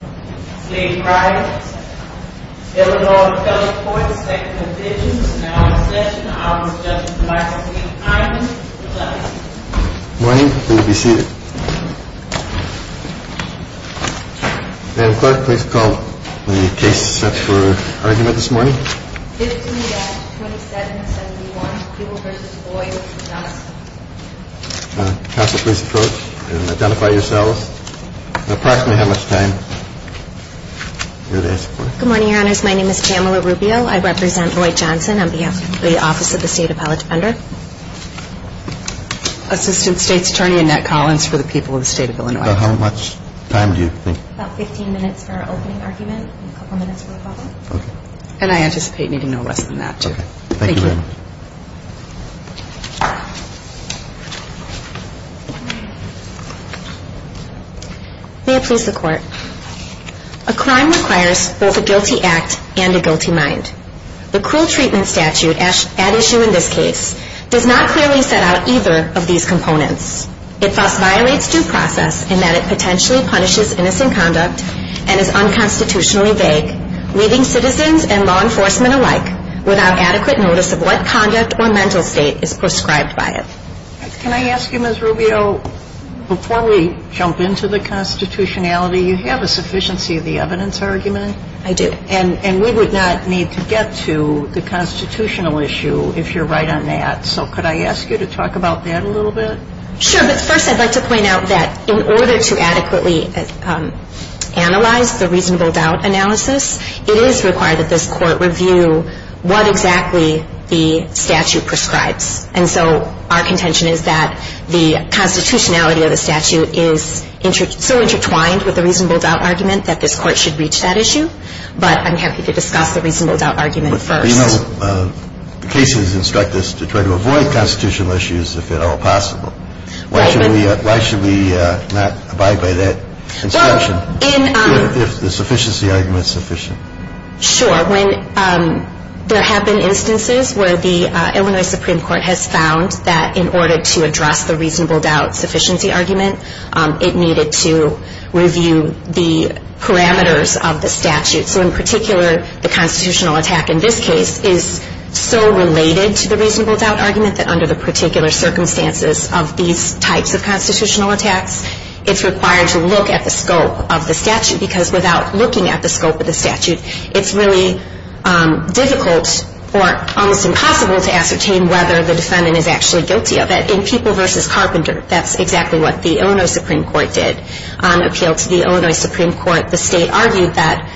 morning, please call the case set for argument this morning. Good morning, your honors. My name is Pamela Rubio. I represent Lloyd Johnson on behalf of the Office of the State Appellate Defender. Assistant State's Attorney Annette Collins for the people of the state of Illinois. About how much time do you think? About 15 minutes for our opening argument and a couple minutes for the following. And I anticipate needing no less than that too. Thank you. May it please the court. A crime requires both a guilty act and a guilty mind. The cruel treatment statute at issue in this case does not clearly set out either of these components. It thus violates due process in that it potentially punishes innocent conduct and is unconstitutionally vague, leaving citizens and law enforcement alike without adequate notice of what conduct or mental state is prescribed by it. Can I ask you, Ms. Rubio, before we jump into the constitutionality, you have a sufficiency of the evidence argument? I do. And we would not need to get to the constitutional issue if you're right on that. So could I ask you to talk about that a little bit? Sure. But first I'd like to point out that in order to adequately analyze the reasonable doubt analysis, it is required that this court review what exactly the statute prescribes. And so our contention is that the constitutionality of the statute is so intertwined with the reasonable doubt argument that this court should reach that issue. But I'm happy to discuss the reasonable doubt argument first. Well, you know, cases instruct us to try to avoid constitutional issues if at all possible. Why should we not abide by that instruction if the sufficiency argument is sufficient? Sure. There have been instances where the Illinois Supreme Court has found that in order to address the reasonable doubt sufficiency argument, it needed to review the parameters of the statute. So in particular, the constitutional attack in this case is so related to the reasonable doubt argument that under the particular circumstances of these types of constitutional attacks, it's required to look at the scope of the statute because without looking at the scope of the statute, it's really difficult or almost impossible to ascertain whether the defendant is actually guilty of it. In People v. Carpenter, that's exactly what the Illinois Supreme Court did. On appeal to the Illinois Supreme Court, the state argued that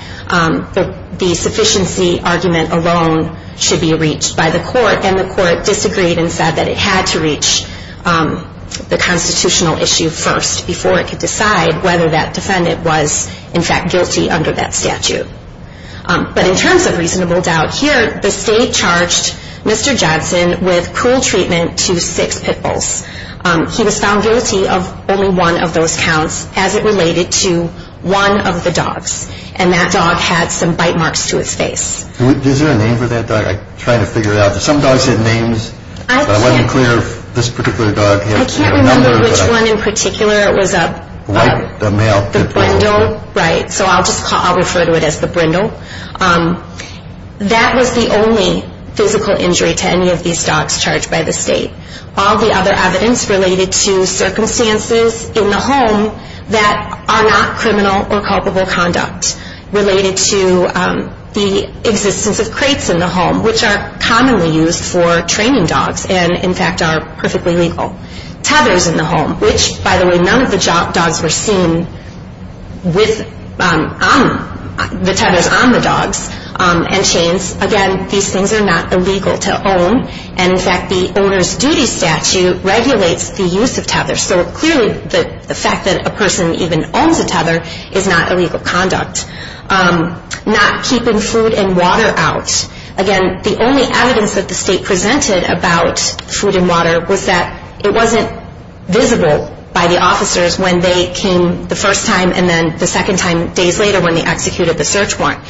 the sufficiency argument alone should be reached by the court, and the court disagreed and said that it had to reach the constitutional issue first before it could decide whether that defendant was, in fact, guilty under that statute. But in terms of reasonable doubt here, the state charged Mr. Johnson with cruel treatment to six pitfalls. He was found guilty of only one of those counts as it related to one of the dogs, and that dog had some bite marks to its face. Is there a name for that dog? I'm trying to figure it out. Some dogs had names, but I wasn't clear if this particular dog had a number. I can't remember which one in particular it was. The male. The Brindle, right. So I'll refer to it as the Brindle. That was the only physical injury to any of these dogs charged by the state. All the other evidence related to circumstances in the home that are not criminal or culpable conduct related to the existence of crates in the home, which are commonly used for training dogs and, in fact, are perfectly legal. Tethers in the home, which, by the way, none of the dogs were seen with the tethers on the dogs and chains. Again, these things are not illegal to own. And, in fact, the owner's duty statute regulates the use of tethers. So clearly the fact that a person even owns a tether is not illegal conduct. Not keeping food and water out. Again, the only evidence that the state presented about food and water was that it wasn't visible by the officers when they came the first time and then the second time days later when they executed the search warrant.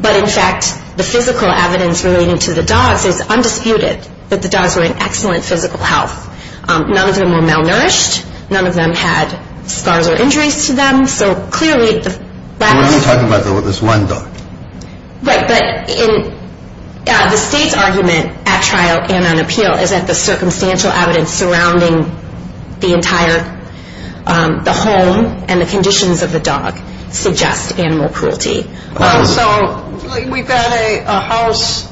But, in fact, the physical evidence relating to the dogs is undisputed that the dogs were in excellent physical health. None of them were malnourished. None of them had scars or injuries to them. So clearly the fact that... We're only talking about this one dog. Right, but the state's argument at trial and on appeal is that the circumstantial evidence surrounding the entire home and the conditions of the dog suggest animal cruelty. So we've got a house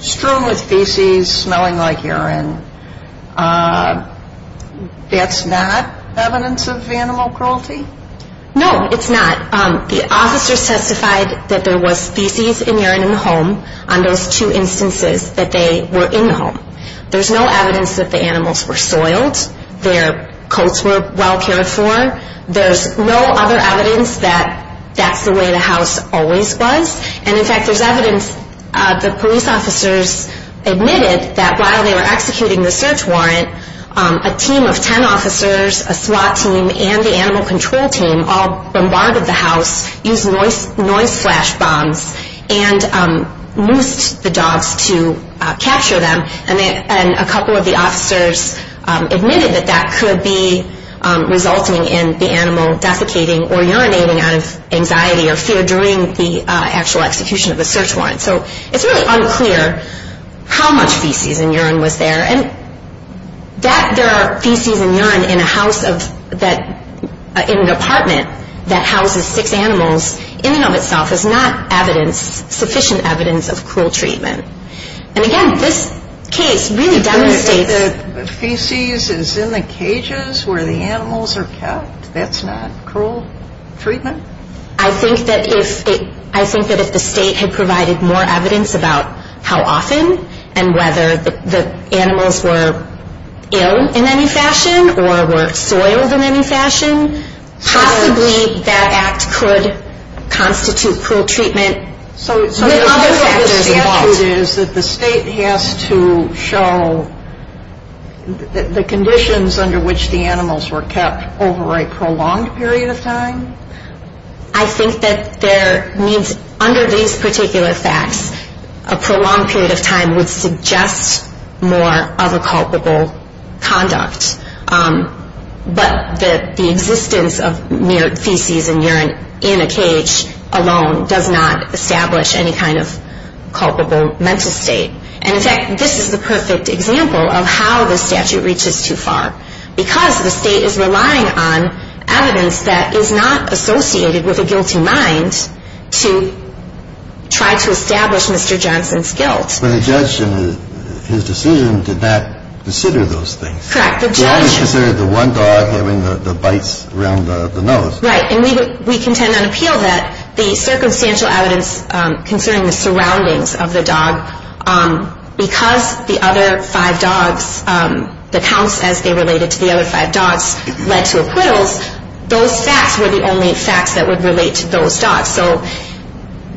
strewn with feces smelling like urine. That's not evidence of animal cruelty? No, it's not. The officers testified that there was feces and urine in the home on those two instances that they were in the home. There's no evidence that the animals were soiled. Their coats were well cared for. There's no other evidence that that's the way the house always was. And, in fact, there's evidence the police officers admitted that while they were executing the search warrant, a team of ten officers, a SWAT team, and the animal control team all bombarded the house, used noise flash bombs, and moosed the dogs to capture them. And a couple of the officers admitted that that could be resulting in the animal desiccating or urinating out of anxiety or fear during the actual execution of the search warrant. So it's really unclear how much feces and urine was there. And that there are feces and urine in an apartment that houses six animals in and of itself is not sufficient evidence of cruel treatment. And, again, this case really demonstrates... The feces is in the cages where the animals are kept? That's not cruel treatment? I think that if the state had provided more evidence about how often and whether the animals were ill in any fashion or were soiled in any fashion, possibly that act could constitute cruel treatment. So the other fact is that the state has to show the conditions under which the animals were kept over a prolonged period of time? I think that there means under these particular facts, a prolonged period of time would suggest more other culpable conduct. But the existence of feces and urine in a cage alone does not establish any kind of culpable mental state. And, in fact, this is the perfect example of how the statute reaches too far. Because the state is relying on evidence that is not associated with a guilty mind to try to establish Mr. Johnson's guilt. But the judge in his decision did not consider those things. Correct. The judge... He only considered the one dog having the bites around the nose. Right. And we contend on appeal that the circumstantial evidence concerning the surroundings of the dog, because the other five dogs, the counts as they related to the other five dogs led to acquittals, those facts were the only facts that would relate to those dogs. So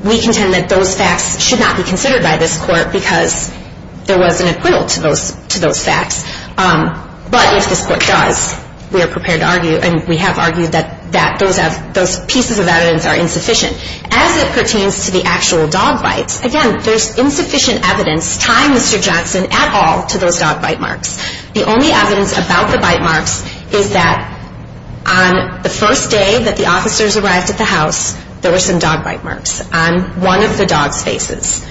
we contend that those facts should not be considered by this court because there was an acquittal to those facts. But if this court does, we are prepared to argue, and we have argued that those pieces of evidence are insufficient. As it pertains to the actual dog bites, again, there's insufficient evidence tying Mr. Johnson at all to those dog bite marks. The only evidence about the bite marks is that on the first day that the officers arrived at the house, there were some dog bite marks on one of the dog's faces.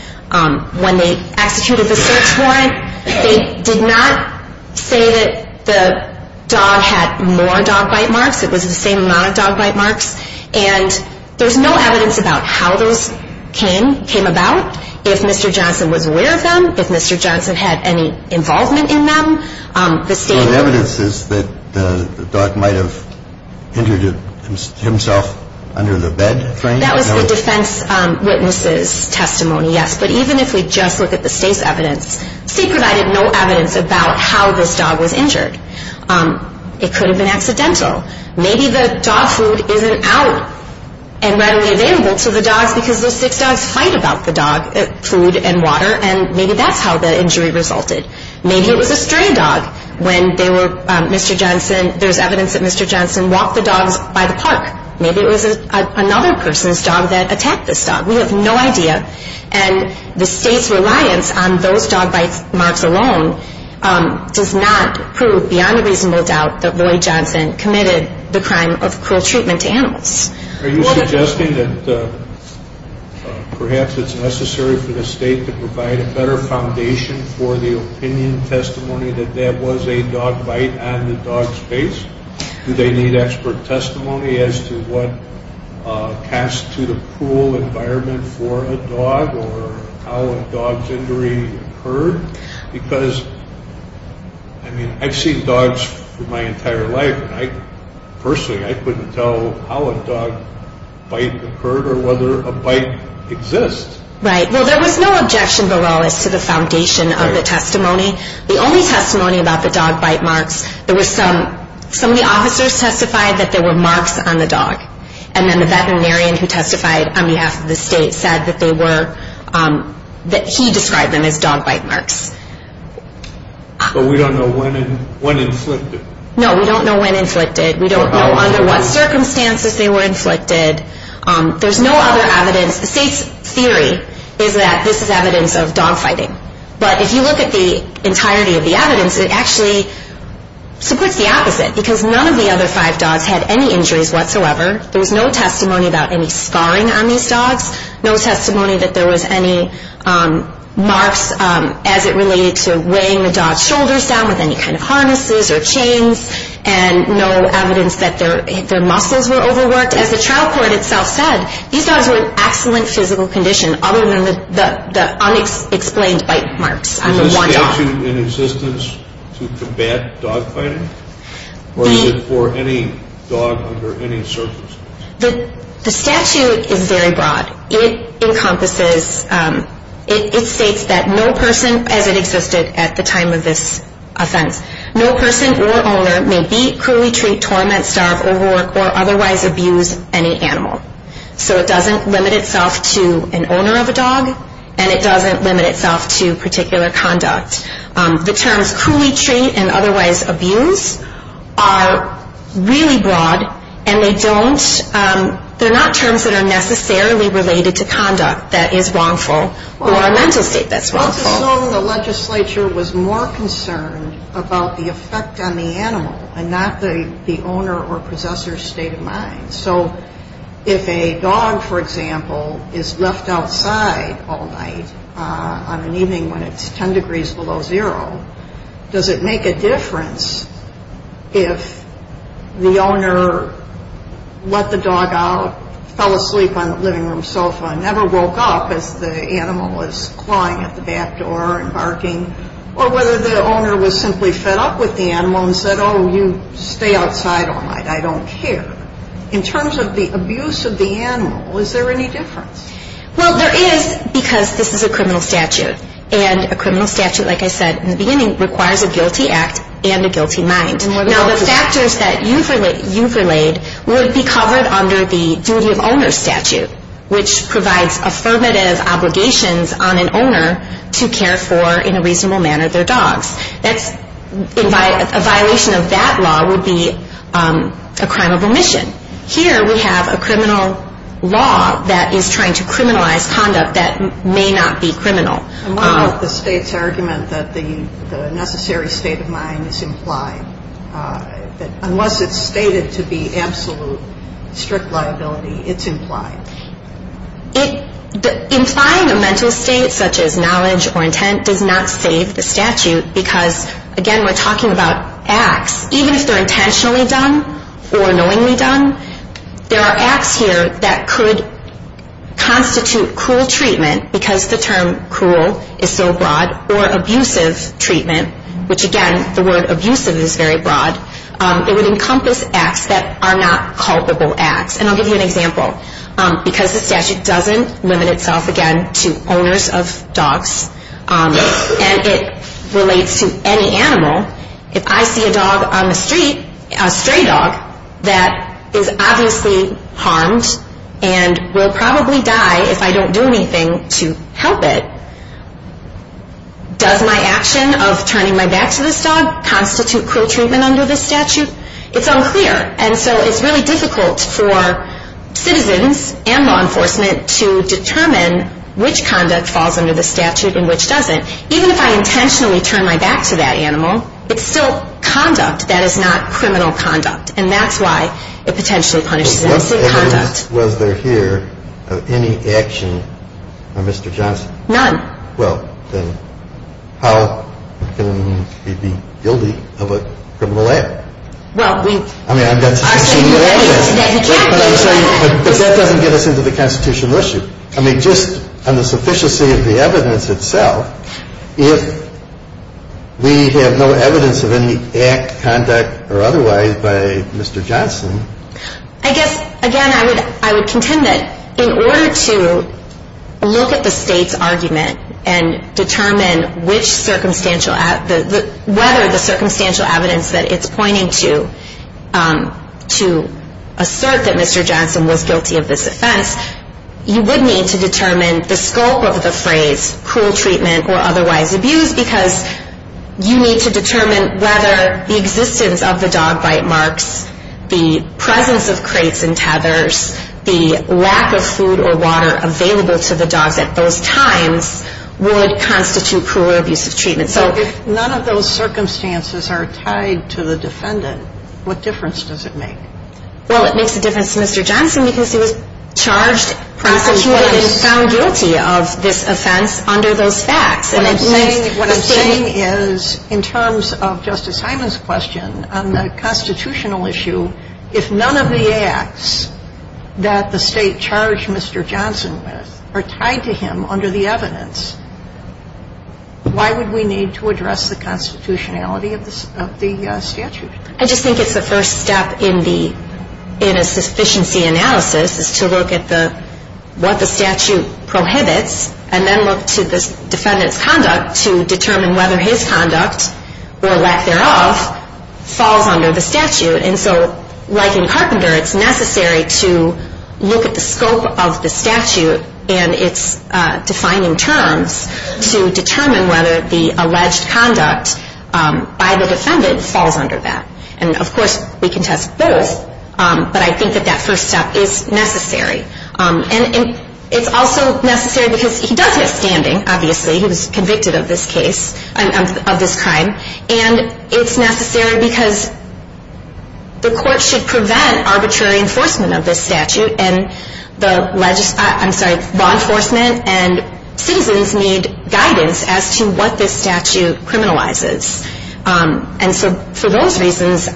When they executed the search warrant, they did not say that the dog had more dog bite marks. It was the same amount of dog bite marks. And there's no evidence about how those came about. If Mr. Johnson was aware of them, if Mr. Johnson had any involvement in them, the state... So the evidence is that the dog might have injured himself under the bed frame? That was the defense witness's testimony, yes. But even if we just look at the state's evidence, the state provided no evidence about how this dog was injured. It could have been accidental. Maybe the dog food isn't out and readily available to the dogs because those six dogs fight about the dog food and water, and maybe that's how the injury resulted. Maybe it was a stray dog when they were... Mr. Johnson... There's evidence that Mr. Johnson walked the dogs by the park. Maybe it was another person's dog that attacked this dog. We have no idea. And the state's reliance on those dog bite marks alone does not prove beyond a reasonable doubt that Lloyd Johnson committed the crime of cruel treatment to animals. Are you suggesting that perhaps it's necessary for the state to provide a better foundation for the opinion testimony that there was a dog bite on the dog's face? Do they need expert testimony as to what cast to the pool environment for a dog or how a dog's injury occurred? Because, I mean, I've seen dogs for my entire life, and personally I couldn't tell how a dog bite occurred or whether a bite exists. Right. Well, there was no objection below as to the foundation of the testimony. The only testimony about the dog bite marks, some of the officers testified that there were marks on the dog, and then the veterinarian who testified on behalf of the state said that he described them as dog bite marks. But we don't know when inflicted. No, we don't know when inflicted. We don't know under what circumstances they were inflicted. There's no other evidence. The state's theory is that this is evidence of dog fighting. But if you look at the entirety of the evidence, it actually supports the opposite because none of the other five dogs had any injuries whatsoever. There was no testimony about any scarring on these dogs, no testimony that there was any marks as it related to weighing the dog's shoulders down with any kind of harnesses or chains, and no evidence that their muscles were overworked. As the trial court itself said, these dogs were in excellent physical condition other than the unexplained bite marks on the one dog. Is the statute in existence to combat dog fighting, or is it for any dog under any circumstances? The statute is very broad. It states that no person, as it existed at the time of this offense, no person or owner may beat, cruelly treat, torment, starve, overwork, or otherwise abuse any animal. So it doesn't limit itself to an owner of a dog, and it doesn't limit itself to particular conduct. The terms cruelly treat and otherwise abuse are really broad, and they're not terms that are necessarily related to conduct that is wrongful or a mental state that's wrongful. Let's assume the legislature was more concerned about the effect on the animal and not the owner or possessor's state of mind. So if a dog, for example, is left outside all night on an evening when it's 10 degrees below zero, does it make a difference if the owner let the dog out, fell asleep on the living room sofa and never woke up as the animal was clawing at the back door and barking, or whether the owner was simply fed up with the animal and said, Oh, you stay outside all night. I don't care. In terms of the abuse of the animal, is there any difference? Well, there is because this is a criminal statute, and a criminal statute, like I said in the beginning, requires a guilty act and a guilty mind. Now, the factors that you've relayed would be covered under the duty of owner statute, which provides affirmative obligations on an owner to care for, in a reasonable manner, their dogs. A violation of that law would be a crime of omission. Here we have a criminal law that is trying to criminalize conduct that may not be criminal. And what about the state's argument that the necessary state of mind is implied? Unless it's stated to be absolute strict liability, it's implied. Implying a mental state such as knowledge or intent does not save the statute because, again, we're talking about acts. Even if they're intentionally done or knowingly done, there are acts here that could constitute cruel treatment, because the term cruel is so broad, or abusive treatment, which, again, the word abusive is very broad. It would encompass acts that are not culpable acts. And I'll give you an example. Because the statute doesn't limit itself, again, to owners of dogs, and it relates to any animal, if I see a dog on the street, a stray dog, that is obviously harmed and will probably die if I don't do anything to help it, does my action of turning my back to this dog constitute cruel treatment under this statute? It's unclear. And so it's really difficult for citizens and law enforcement to determine which conduct falls under the statute and which doesn't. Even if I intentionally turn my back to that animal, it's still conduct. That is not criminal conduct. And that's why it potentially punishes them. It's a conduct. So what evidence was there here of any action of Mr. Johnson? None. Well, then how can we be guilty of a criminal act? Well, we argued that he can't be guilty. But that doesn't get us into the constitutional issue. I mean, just on the sufficiency of the evidence itself, if we have no evidence of any act, conduct, or otherwise by Mr. Johnson. I guess, again, I would contend that in order to look at the state's argument and determine whether the circumstantial evidence that it's pointing to assert that Mr. Johnson was guilty of this offense, you would need to determine the scope of the phrase cruel treatment or otherwise abuse because you need to determine whether the existence of the dog bite marks, the presence of crates and tethers, the lack of food or water available to the dogs at those times would constitute cruel or abusive treatment. So if none of those circumstances are tied to the defendant, what difference does it make? Well, it makes a difference to Mr. Johnson because he was charged, prosecuted, and found guilty of this offense under those facts. What I'm saying is in terms of Justice Hyman's question on the constitutional issue, if none of the acts that the state charged Mr. Johnson with are tied to him under the evidence, why would we need to address the constitutionality of the statute? I just think it's the first step in a sufficiency analysis is to look at what the statute prohibits and then look to the defendant's conduct to determine whether his conduct or lack thereof falls under the statute. And so like in Carpenter, it's necessary to look at the scope of the statute and its defining terms to determine whether the alleged conduct by the defendant falls under that. And, of course, we can test both, but I think that that first step is necessary. And it's also necessary because he does have standing, obviously. He was convicted of this case, of this crime. And it's necessary because the court should prevent arbitrary enforcement of this statute and law enforcement and citizens need guidance as to what this statute criminalizes. And so for those reasons,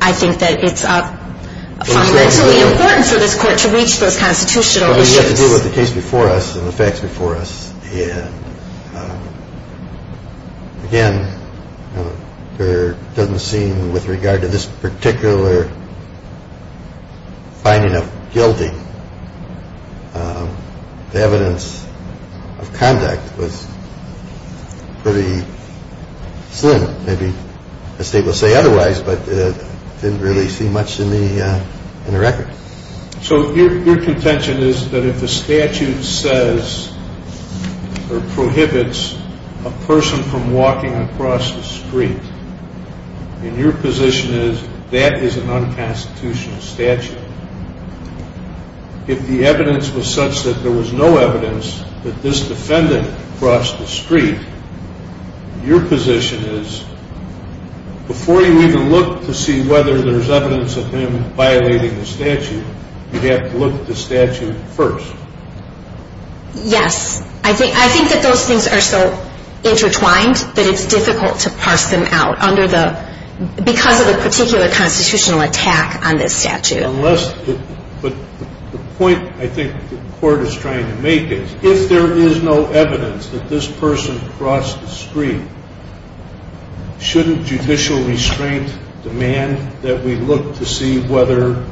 I think that it's fundamentally important for this court to reach those constitutional issues. Well, you have to deal with the case before us and the facts before us. And, again, it doesn't seem with regard to this particular finding of guilty, the evidence of conduct was pretty slim. Maybe the state will say otherwise, but it didn't really see much in the record. So your contention is that if the statute says or prohibits a person from walking across the street, and your position is that is an unconstitutional statute, if the evidence was such that there was no evidence that this defendant crossed the street, your position is before you even look to see whether there's evidence of him violating the statute, you have to look at the statute first. Yes. I think that those things are so intertwined that it's difficult to parse them out because of the particular constitutional attack on this statute. But the point I think the court is trying to make is if there is no evidence that this person crossed the street, shouldn't judicial restraint demand that we look to see whether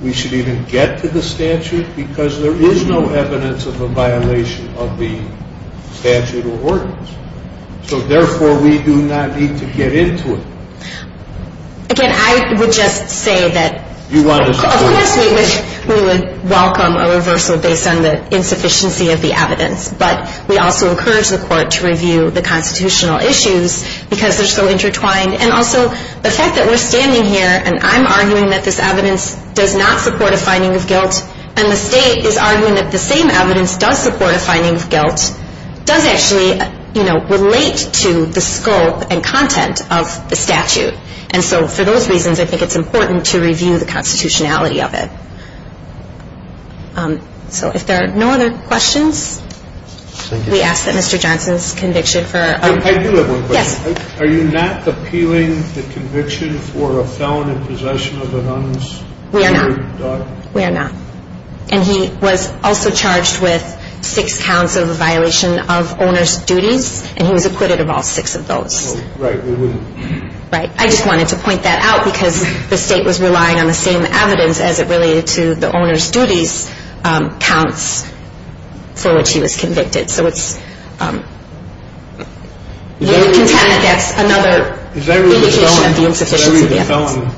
we should even get to the statute? Because there is no evidence of a violation of the statute or ordinance. So, therefore, we do not need to get into it. Again, I would just say that of course we would welcome a reversal based on the insufficiency of the evidence, but we also encourage the court to review the constitutional issues because they're so intertwined. And also the fact that we're standing here and I'm arguing that this evidence does not support a finding of guilt, and the state is arguing that the same evidence does support a finding of guilt, does actually relate to the scope and content of the statute. And so for those reasons, I think it's important to review the constitutionality of it. So if there are no other questions, we ask that Mr. Johnson's conviction for... I do have one question. Yes. Are you not appealing the conviction for a felon in possession of an uninsured dog? We are not. We are not. And he was also charged with six counts of a violation of owner's duties, and he was acquitted of all six of those. Right. Right. I just wanted to point that out because the state was relying on the same evidence as it related to the owner's duties counts for which he was convicted. So it's... That's another indication of the insufficiency of the evidence.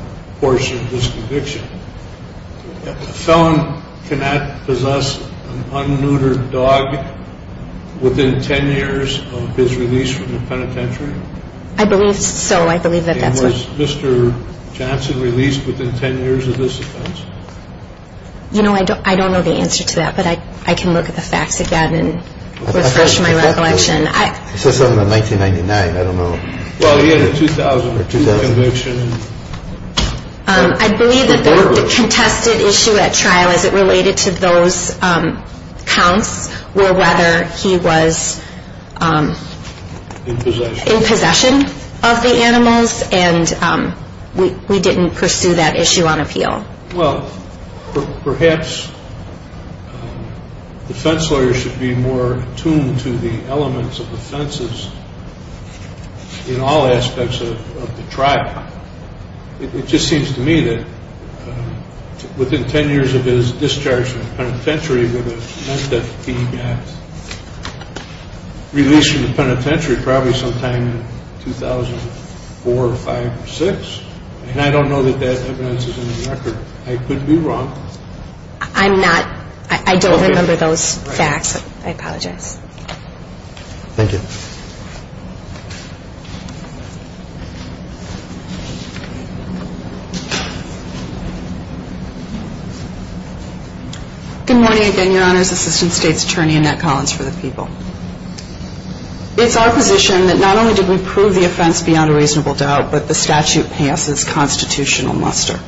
I believe so. I believe that that's what... And was Mr. Johnson released within 10 years of this offense? You know, I don't know the answer to that, but I can look at the facts again and refresh my recollection. I said something about 1999. 2000 conviction. 2000 conviction. 2000 conviction. 2000 conviction. 2000 conviction. I believe that the contested issue at trial as it related to those counts were whether he was in possession of the animals, and we didn't pursue that issue on appeal. Well, perhaps defense lawyers should be more attuned to the elements of offenses in all aspects of the trial. It just seems to me that within 10 years of his discharge from the penitentiary meant that he got released from the penitentiary probably sometime in 2004 or 5 or 6, and I don't know that that evidence is in the record. I could be wrong. I'm not. I don't remember those facts. I apologize. Thank you. Good morning again, Your Honors. Assistant State's Attorney Annette Collins for the People. It's our position that not only did we prove the offense beyond a reasonable doubt, but the statute passes constitutional muster.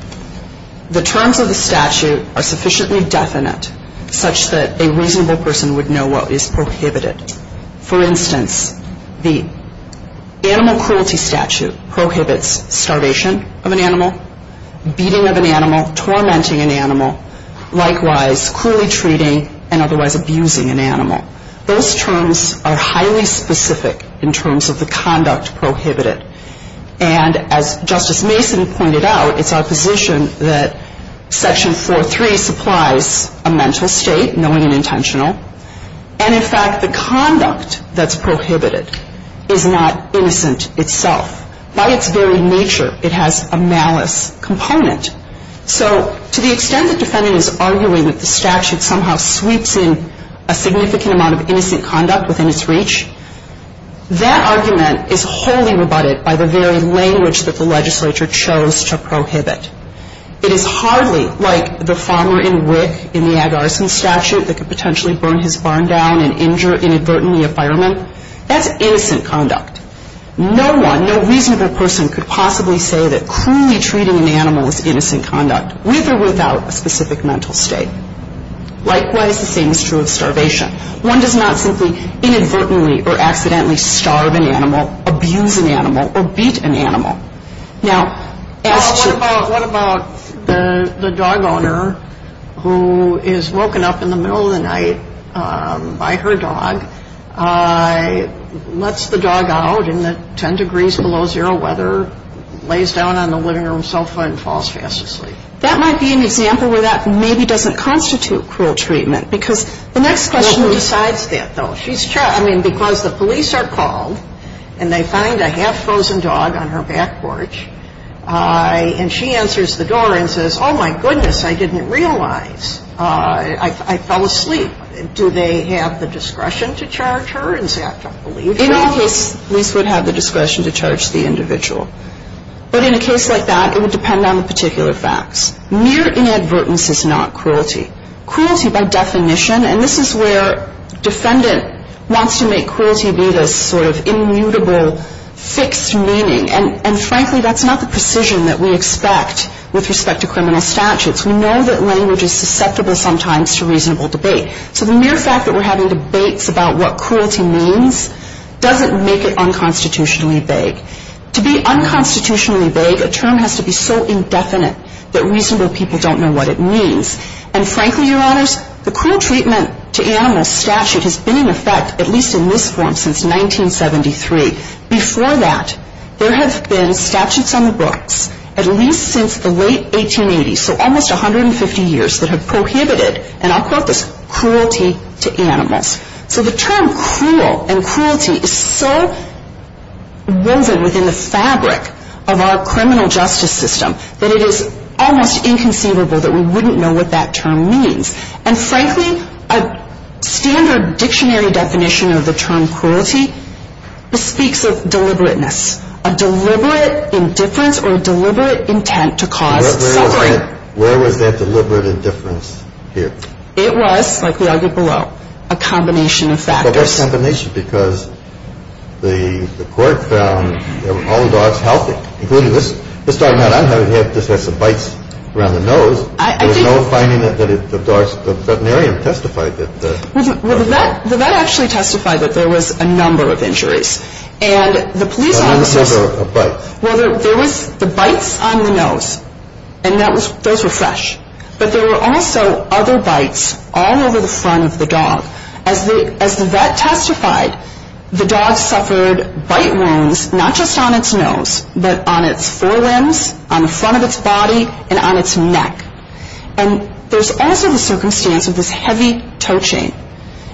The terms of the statute are sufficiently definite such that a reasonable person would know what is prohibited. For instance, the animal cruelty statute prohibits starvation of an animal, beating of an animal, tormenting an animal, likewise cruelly treating and otherwise abusing an animal. Those terms are highly specific in terms of the conduct prohibited, and as Justice Mason pointed out, it's our position that Section 4.3 supplies a mental state, knowing and intentional, and, in fact, the conduct that's prohibited is not innocent itself. By its very nature, it has a malice component. So to the extent the defendant is arguing that the statute somehow sweeps in a significant amount of innocent conduct within its reach, that argument is wholly rebutted by the very language that the legislature chose to prohibit. It is hardly like the farmer in WIC in the ag arson statute that could potentially burn his barn down and injure inadvertently a fireman. That's innocent conduct. No one, no reasonable person could possibly say that cruelly treating an animal is innocent conduct, with or without a specific mental state. Likewise, the same is true of starvation. One does not simply inadvertently or accidentally starve an animal, abuse an animal, or beat an animal. Now, as to... Well, what about the dog owner who is woken up in the middle of the night by her dog, lets the dog out in the 10 degrees below zero weather, lays down on the living room sofa and falls fast asleep? That might be an example where that maybe doesn't constitute cruel treatment, because the next question... No one decides that, though. I mean, because the police are called, and they find a half-frozen dog on her back porch, and she answers the door and says, oh, my goodness, I didn't realize. I fell asleep. Do they have the discretion to charge her and say, I don't believe you? In any case, police would have the discretion to charge the individual. But in a case like that, it would depend on the particular facts. Mere inadvertence is not cruelty. Cruelty by definition, and this is where defendant wants to make cruelty be this sort of immutable, fixed meaning. And, frankly, that's not the precision that we expect with respect to criminal statutes. We know that language is susceptible sometimes to reasonable debate. So the mere fact that we're having debates about what cruelty means doesn't make it unconstitutionally vague. To be unconstitutionally vague, a term has to be so indefinite that reasonable people don't know what it means. And, frankly, Your Honors, the cruel treatment to animals statute has been in effect, at least in this form, since 1973. Before that, there have been statutes on the books, at least since the late 1880s, so almost 150 years, that have prohibited, and I'll quote this, cruelty to animals. So the term cruel and cruelty is so woven within the fabric of our criminal justice system that it is almost inconceivable that we wouldn't know what that term means. And, frankly, a standard dictionary definition of the term cruelty speaks of deliberateness, a deliberate indifference or a deliberate intent to cause suffering. Where was that deliberate indifference here? It was, like we argued below, a combination of factors. But what combination? Well, the vet actually testified that there was a number of injuries. And the police officers... A number of bites. Well, there was the bites on the nose, and those were fresh. But there were also other bites all over the front of the dog. As the vet testified, the veterinarian said, the dog suffered bite wounds not just on its nose, but on its forelimbs, on the front of its body, and on its neck. And there's also the circumstance of this heavy toe chain,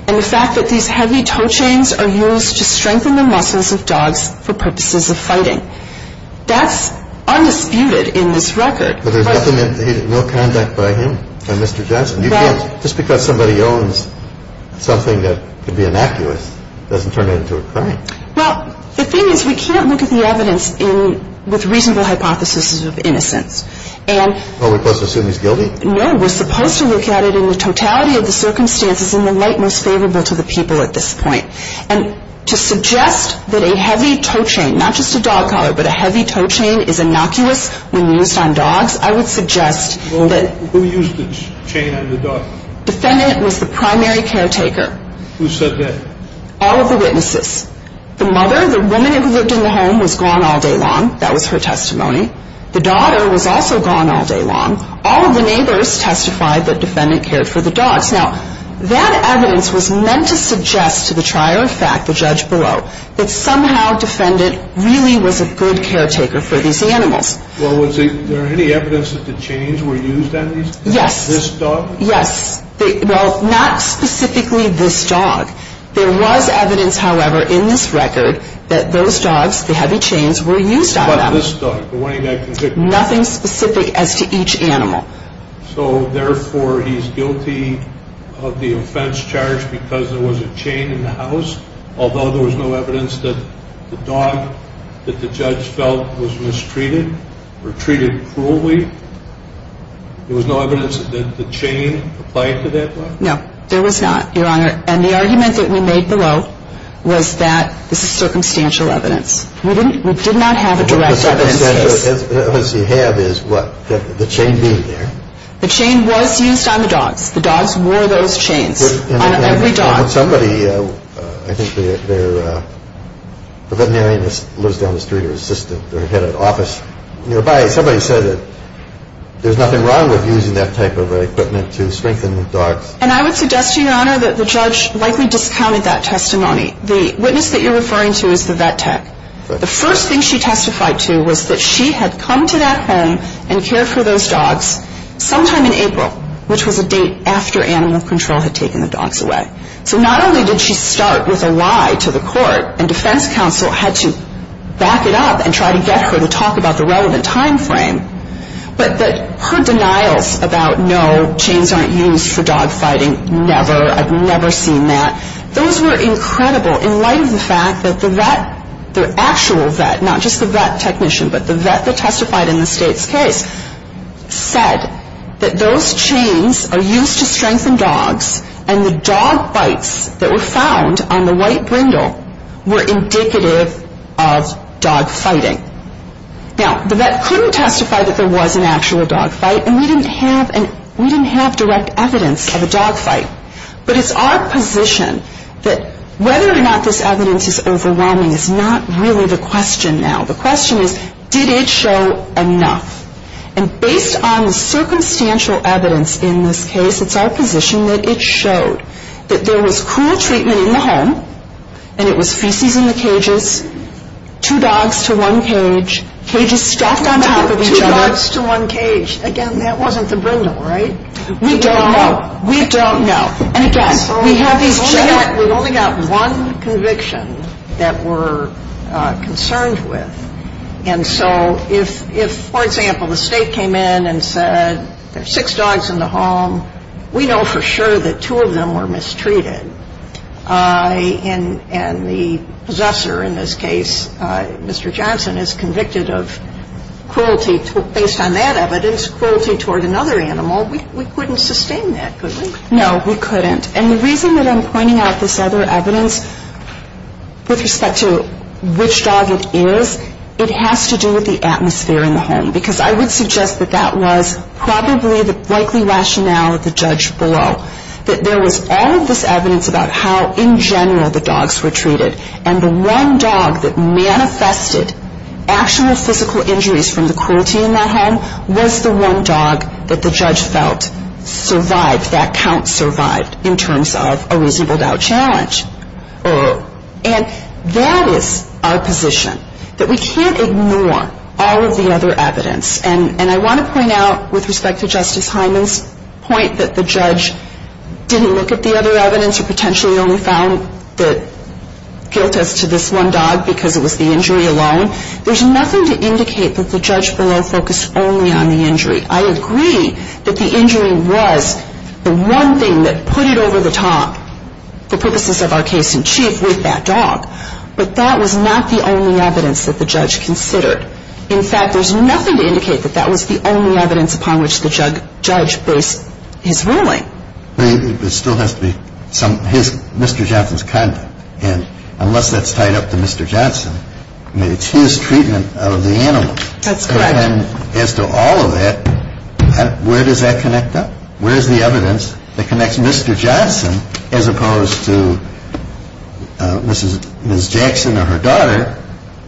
and the fact that these heavy toe chains are used to strengthen the muscles of dogs for purposes of fighting. That's undisputed in this record. But there's definitely no conduct by him, by Mr. Johnson. You can't, just because somebody owns something that could be innocuous, doesn't turn it into a crime. Well, the thing is, we can't look at the evidence with reasonable hypotheses of innocence. Are we supposed to assume he's guilty? No, we're supposed to look at it in the totality of the circumstances in the light most favorable to the people at this point. And to suggest that a heavy toe chain, not just a dog collar, but a heavy toe chain is innocuous when used on dogs, I would suggest that... Who used the chain on the dog? Defendant was the primary caretaker. Who said that? All of the witnesses. The mother, the woman who lived in the home, was gone all day long. That was her testimony. The daughter was also gone all day long. All of the neighbors testified that defendant cared for the dogs. Now, that evidence was meant to suggest to the trier of fact, the judge below, that somehow defendant really was a good caretaker for these animals. Well, was there any evidence that the chains were used on these dogs? Yes. This dog? Yes. Well, not specifically this dog. There was evidence, however, in this record that those dogs, the heavy chains, were used on them. What about this dog? Nothing specific as to each animal. So, therefore, he's guilty of the offense charged because there was a chain in the house, although there was no evidence that the dog that the judge felt was mistreated or treated cruelly. There was no evidence that the chain applied to that dog? No, there was not, Your Honor. And the argument that we made below was that this is circumstantial evidence. We did not have a direct evidence case. The circumstantial evidence you have is what? The chain being there? The chain was used on the dogs. The dogs wore those chains on every dog. Somebody, I think they're a veterinarian that lives down the street or a head of office nearby, somebody said that there's nothing wrong with using that type of equipment to strengthen the dogs. And I would suggest to you, Your Honor, that the judge likely discounted that testimony. The witness that you're referring to is the vet tech. The first thing she testified to was that she had come to that home and cared for those dogs sometime in April, which was a date after animal control had taken the dogs away. So not only did she start with a lie to the court, and defense counsel had to back it up and try to get her to talk about the relevant time frame, but her denials about, no, chains aren't used for dog fighting, never, I've never seen that, those were incredible in light of the fact that the vet, the actual vet, not just the vet technician, but the vet that testified in the state's case, said that those chains are used to strengthen dogs and the dog bites that were found on the white brindle were indicative of dog fighting. Now, the vet couldn't testify that there was an actual dog fight, and we didn't have direct evidence of a dog fight. But it's our position that whether or not this evidence is overwhelming is not really the question now. The question is, did it show enough? And based on the circumstantial evidence in this case, it's our position that it showed that there was cruel treatment in the home, and it was feces in the cages, two dogs to one cage, cages stacked on top of each other. Two dogs to one cage. Again, that wasn't the brindle, right? We don't know. We don't know. And, again, we have these two. We've only got one conviction that we're concerned with. And so if, for example, the State came in and said there are six dogs in the home, we know for sure that two of them were mistreated. And the possessor in this case, Mr. Johnson, is convicted of cruelty. Based on that evidence, cruelty toward another animal, we couldn't sustain that, could we? No, we couldn't. And the reason that I'm pointing out this other evidence with respect to which dog it is, it has to do with the atmosphere in the home, because I would suggest that that was probably the likely rationale of the judge below, that there was all of this evidence about how, in general, the dogs were treated, and the one dog that manifested actual physical injuries from the cruelty in that home was the one dog that the judge felt survived, that count survived, in terms of a reasonable doubt challenge. And that is our position, that we can't ignore all of the other evidence. And I want to point out, with respect to Justice Hyman's point, that the judge didn't look at the other evidence or potentially only found guilt as to this one dog because it was the injury alone. There's nothing to indicate that the judge below focused only on the injury. I agree that the injury was the one thing that put it over the top, for purposes of our case in chief, with that dog. But that was not the only evidence that the judge considered. In fact, there's nothing to indicate that that was the only evidence upon which the judge based his ruling. But it still has to be Mr. Johnson's conduct. And unless that's tied up to Mr. Johnson, I mean, it's his treatment of the animal. That's correct. And as to all of that, where does that connect up? Where is the evidence that connects Mr. Johnson as opposed to Mrs. Jackson or her daughter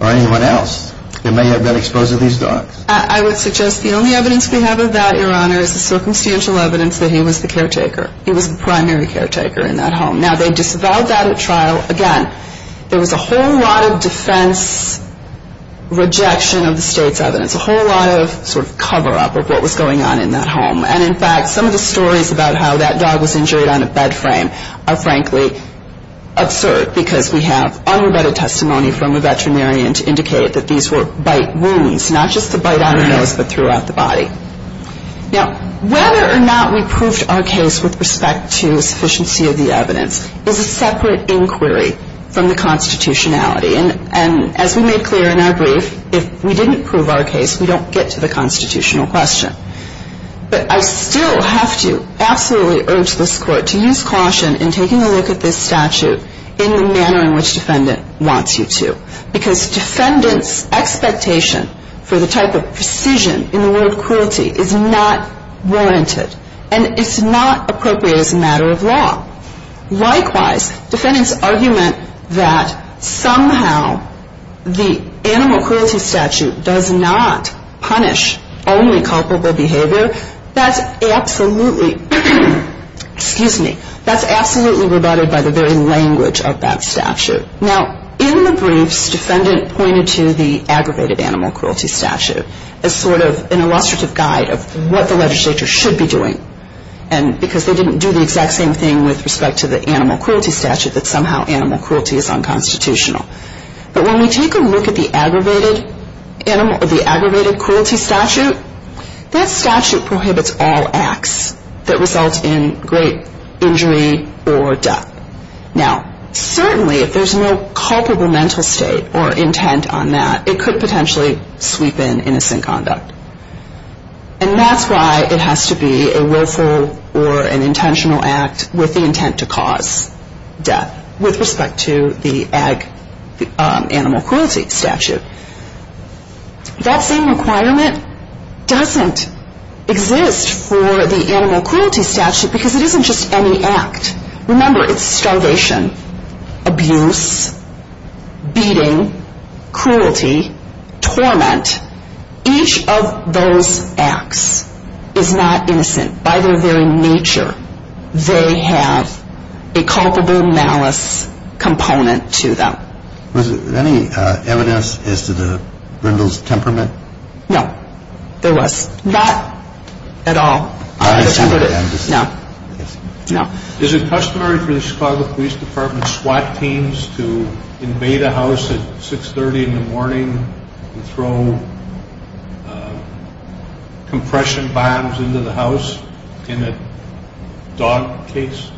or anyone else that may have been exposed to these dogs? I would suggest the only evidence we have of that, Your Honor, is the circumstantial evidence that he was the caretaker. He was the primary caretaker in that home. Now, they disavowed that at trial. Again, there was a whole lot of defense rejection of the state's evidence, a whole lot of sort of cover-up of what was going on in that home. And, in fact, some of the stories about how that dog was injured on a bed frame are, frankly, absurd, because we have unrebutted testimony from a veterinarian to indicate that these were bite wounds, Now, whether or not we proved our case with respect to the sufficiency of the evidence is a separate inquiry from the constitutionality. And as we made clear in our brief, if we didn't prove our case, we don't get to the constitutional question. But I still have to absolutely urge this Court to use caution in taking a look at this statute in the manner in which defendant wants you to, because defendant's expectation for the type of precision in the word cruelty is not warranted. And it's not appropriate as a matter of law. Likewise, defendant's argument that somehow the animal cruelty statute does not punish only culpable behavior, that's absolutely, excuse me, that's absolutely rebutted by the very language of that statute. Now, in the briefs, defendant pointed to the aggravated animal cruelty statute as sort of an illustrative guide of what the legislature should be doing, because they didn't do the exact same thing with respect to the animal cruelty statute, that somehow animal cruelty is unconstitutional. But when we take a look at the aggravated cruelty statute, that statute prohibits all acts that result in great injury or death. Now, certainly if there's no culpable mental state or intent on that, it could potentially sweep in innocent conduct. And that's why it has to be a willful or an intentional act with the intent to cause death with respect to the animal cruelty statute. That same requirement doesn't exist for the animal cruelty statute because it isn't just any act. Remember, it's starvation, abuse, beating, cruelty, torment. Each of those acts is not innocent. By their very nature, they have a culpable malice component to them. Was there any evidence as to the brindle's temperament? No, there was not at all. No. Is it customary for the Chicago Police Department SWAT teams to invade a house at 6.30 in the morning and throw compression bombs into the house in a dog case?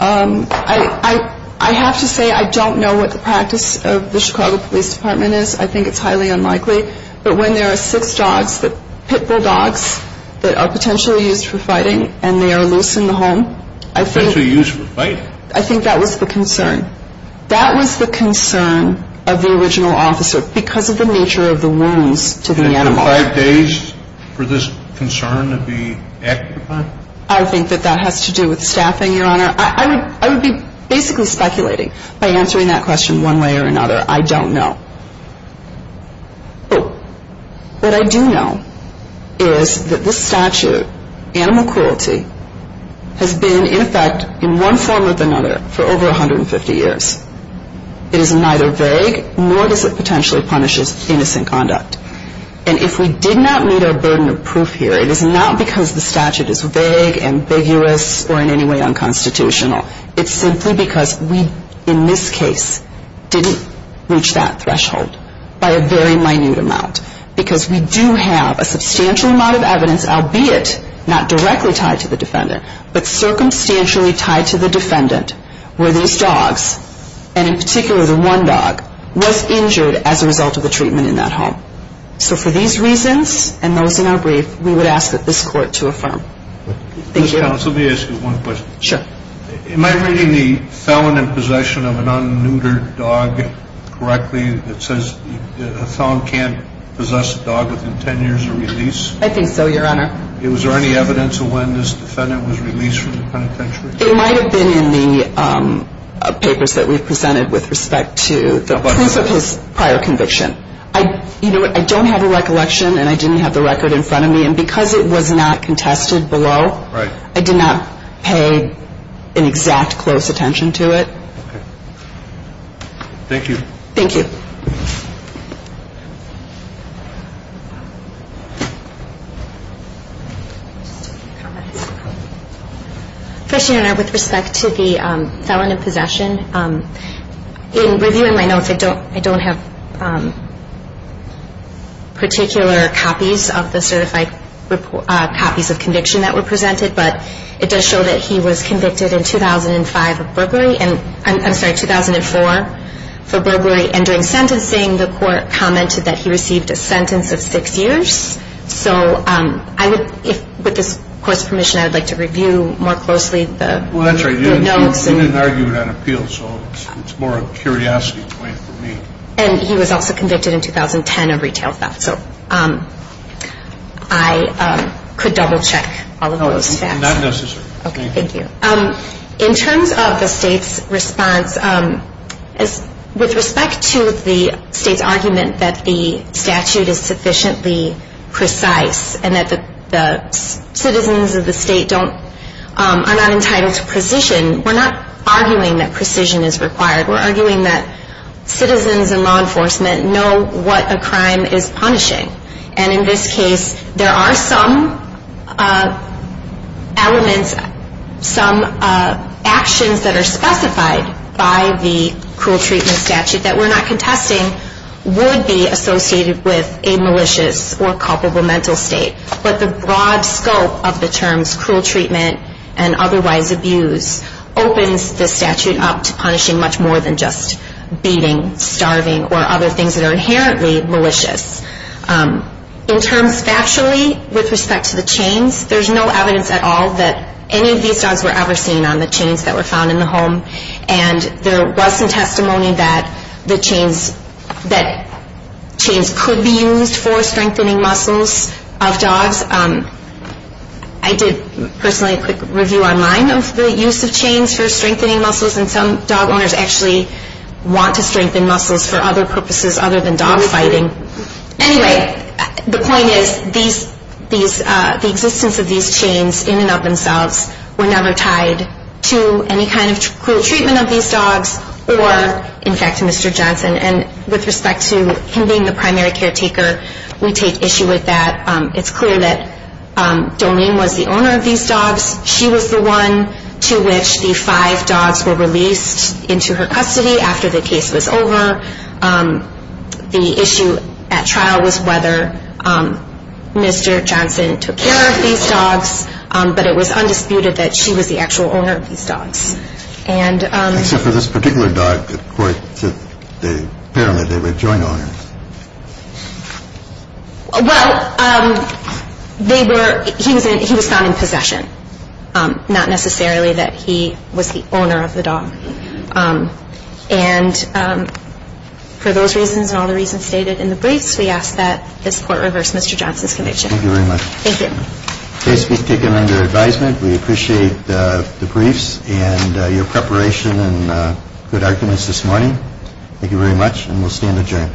I have to say I don't know what the practice of the Chicago Police Department is. I think it's highly unlikely. But when there are six dogs, pit bull dogs, that are potentially used for fighting and they are loose in the home, I think that was the concern. That was the concern of the original officer because of the nature of the wounds to the animal. And five days for this concern to be amplified? I think that that has to do with staffing, Your Honor. I would be basically speculating by answering that question one way or another. I don't know. Oh, what I do know is that this statute, animal cruelty, has been in effect in one form or another for over 150 years. It is neither vague nor does it potentially punishes innocent conduct. And if we did not meet our burden of proof here, it is not because the statute is vague, ambiguous, or in any way unconstitutional. It's simply because we, in this case, didn't reach that threshold by a very minute amount. Because we do have a substantial amount of evidence, albeit not directly tied to the defendant, but circumstantially tied to the defendant where these dogs, and in particular the one dog, was injured as a result of the treatment in that home. So for these reasons and those in our brief, we would ask that this court to affirm. Let me ask you one question. Sure. Am I reading the felon in possession of an unneutered dog correctly? It says a felon can't possess a dog within 10 years of release? I think so, Your Honor. Was there any evidence of when this defendant was released from the penitentiary? It might have been in the papers that we presented with respect to the proof of his prior conviction. I don't have a recollection and I didn't have the record in front of me. And because it was not contested below, I did not pay an exact close attention to it. Okay. Thank you. Thank you. First, Your Honor, with respect to the felon in possession, in reviewing my notes, I don't have particular copies of the certified copies of conviction that were presented. But it does show that he was convicted in 2005 of burglary. I'm sorry, 2004 for burglary. And during sentencing, the court commented that he received a sentence of six years. So with this court's permission, I would like to review more closely the notes. Well, that's right. You didn't argue it on appeal, so it's more a curiosity point for me. And he was also convicted in 2010 of retail theft. So I could double-check all of those facts. Not necessary. Okay. Thank you. In terms of the State's response, with respect to the State's argument that the statute is sufficiently precise and that the citizens of the State are not entitled to precision, we're not arguing that precision is required. We're arguing that citizens and law enforcement know what a crime is punishing. And in this case, there are some elements, some actions that are specified by the cruel treatment statute that we're not contesting would be associated with a malicious or culpable mental state. But the broad scope of the terms cruel treatment and otherwise abuse opens the statute up to punishing much more than just beating, starving, or other things that are inherently malicious. In terms factually, with respect to the chains, there's no evidence at all that any of these dogs were ever seen on the chains that were found in the home. And there was some testimony that chains could be used for strengthening muscles of dogs. I did personally a quick review online of the use of chains for strengthening muscles, and some dog owners actually want to strengthen muscles for other purposes other than dog fighting. Anyway, the point is the existence of these chains in and of themselves were never tied to any kind of cruel treatment of these dogs, or in fact to Mr. Johnson. And with respect to him being the primary caretaker, we take issue with that. It's clear that Doreen was the owner of these dogs. She was the one to which the five dogs were released into her custody after the case was over. The issue at trial was whether Mr. Johnson took care of these dogs, but it was undisputed that she was the actual owner of these dogs. Except for this particular dog that apparently they were joint owners. Well, he was found in possession, not necessarily that he was the owner of the dog. And for those reasons and all the reasons stated in the briefs, we ask that this court reverse Mr. Johnson's conviction. Thank you very much. Thank you. The case was taken under advisement. We appreciate the briefs and your preparation and good arguments this morning. Thank you very much, and we'll stand adjourned.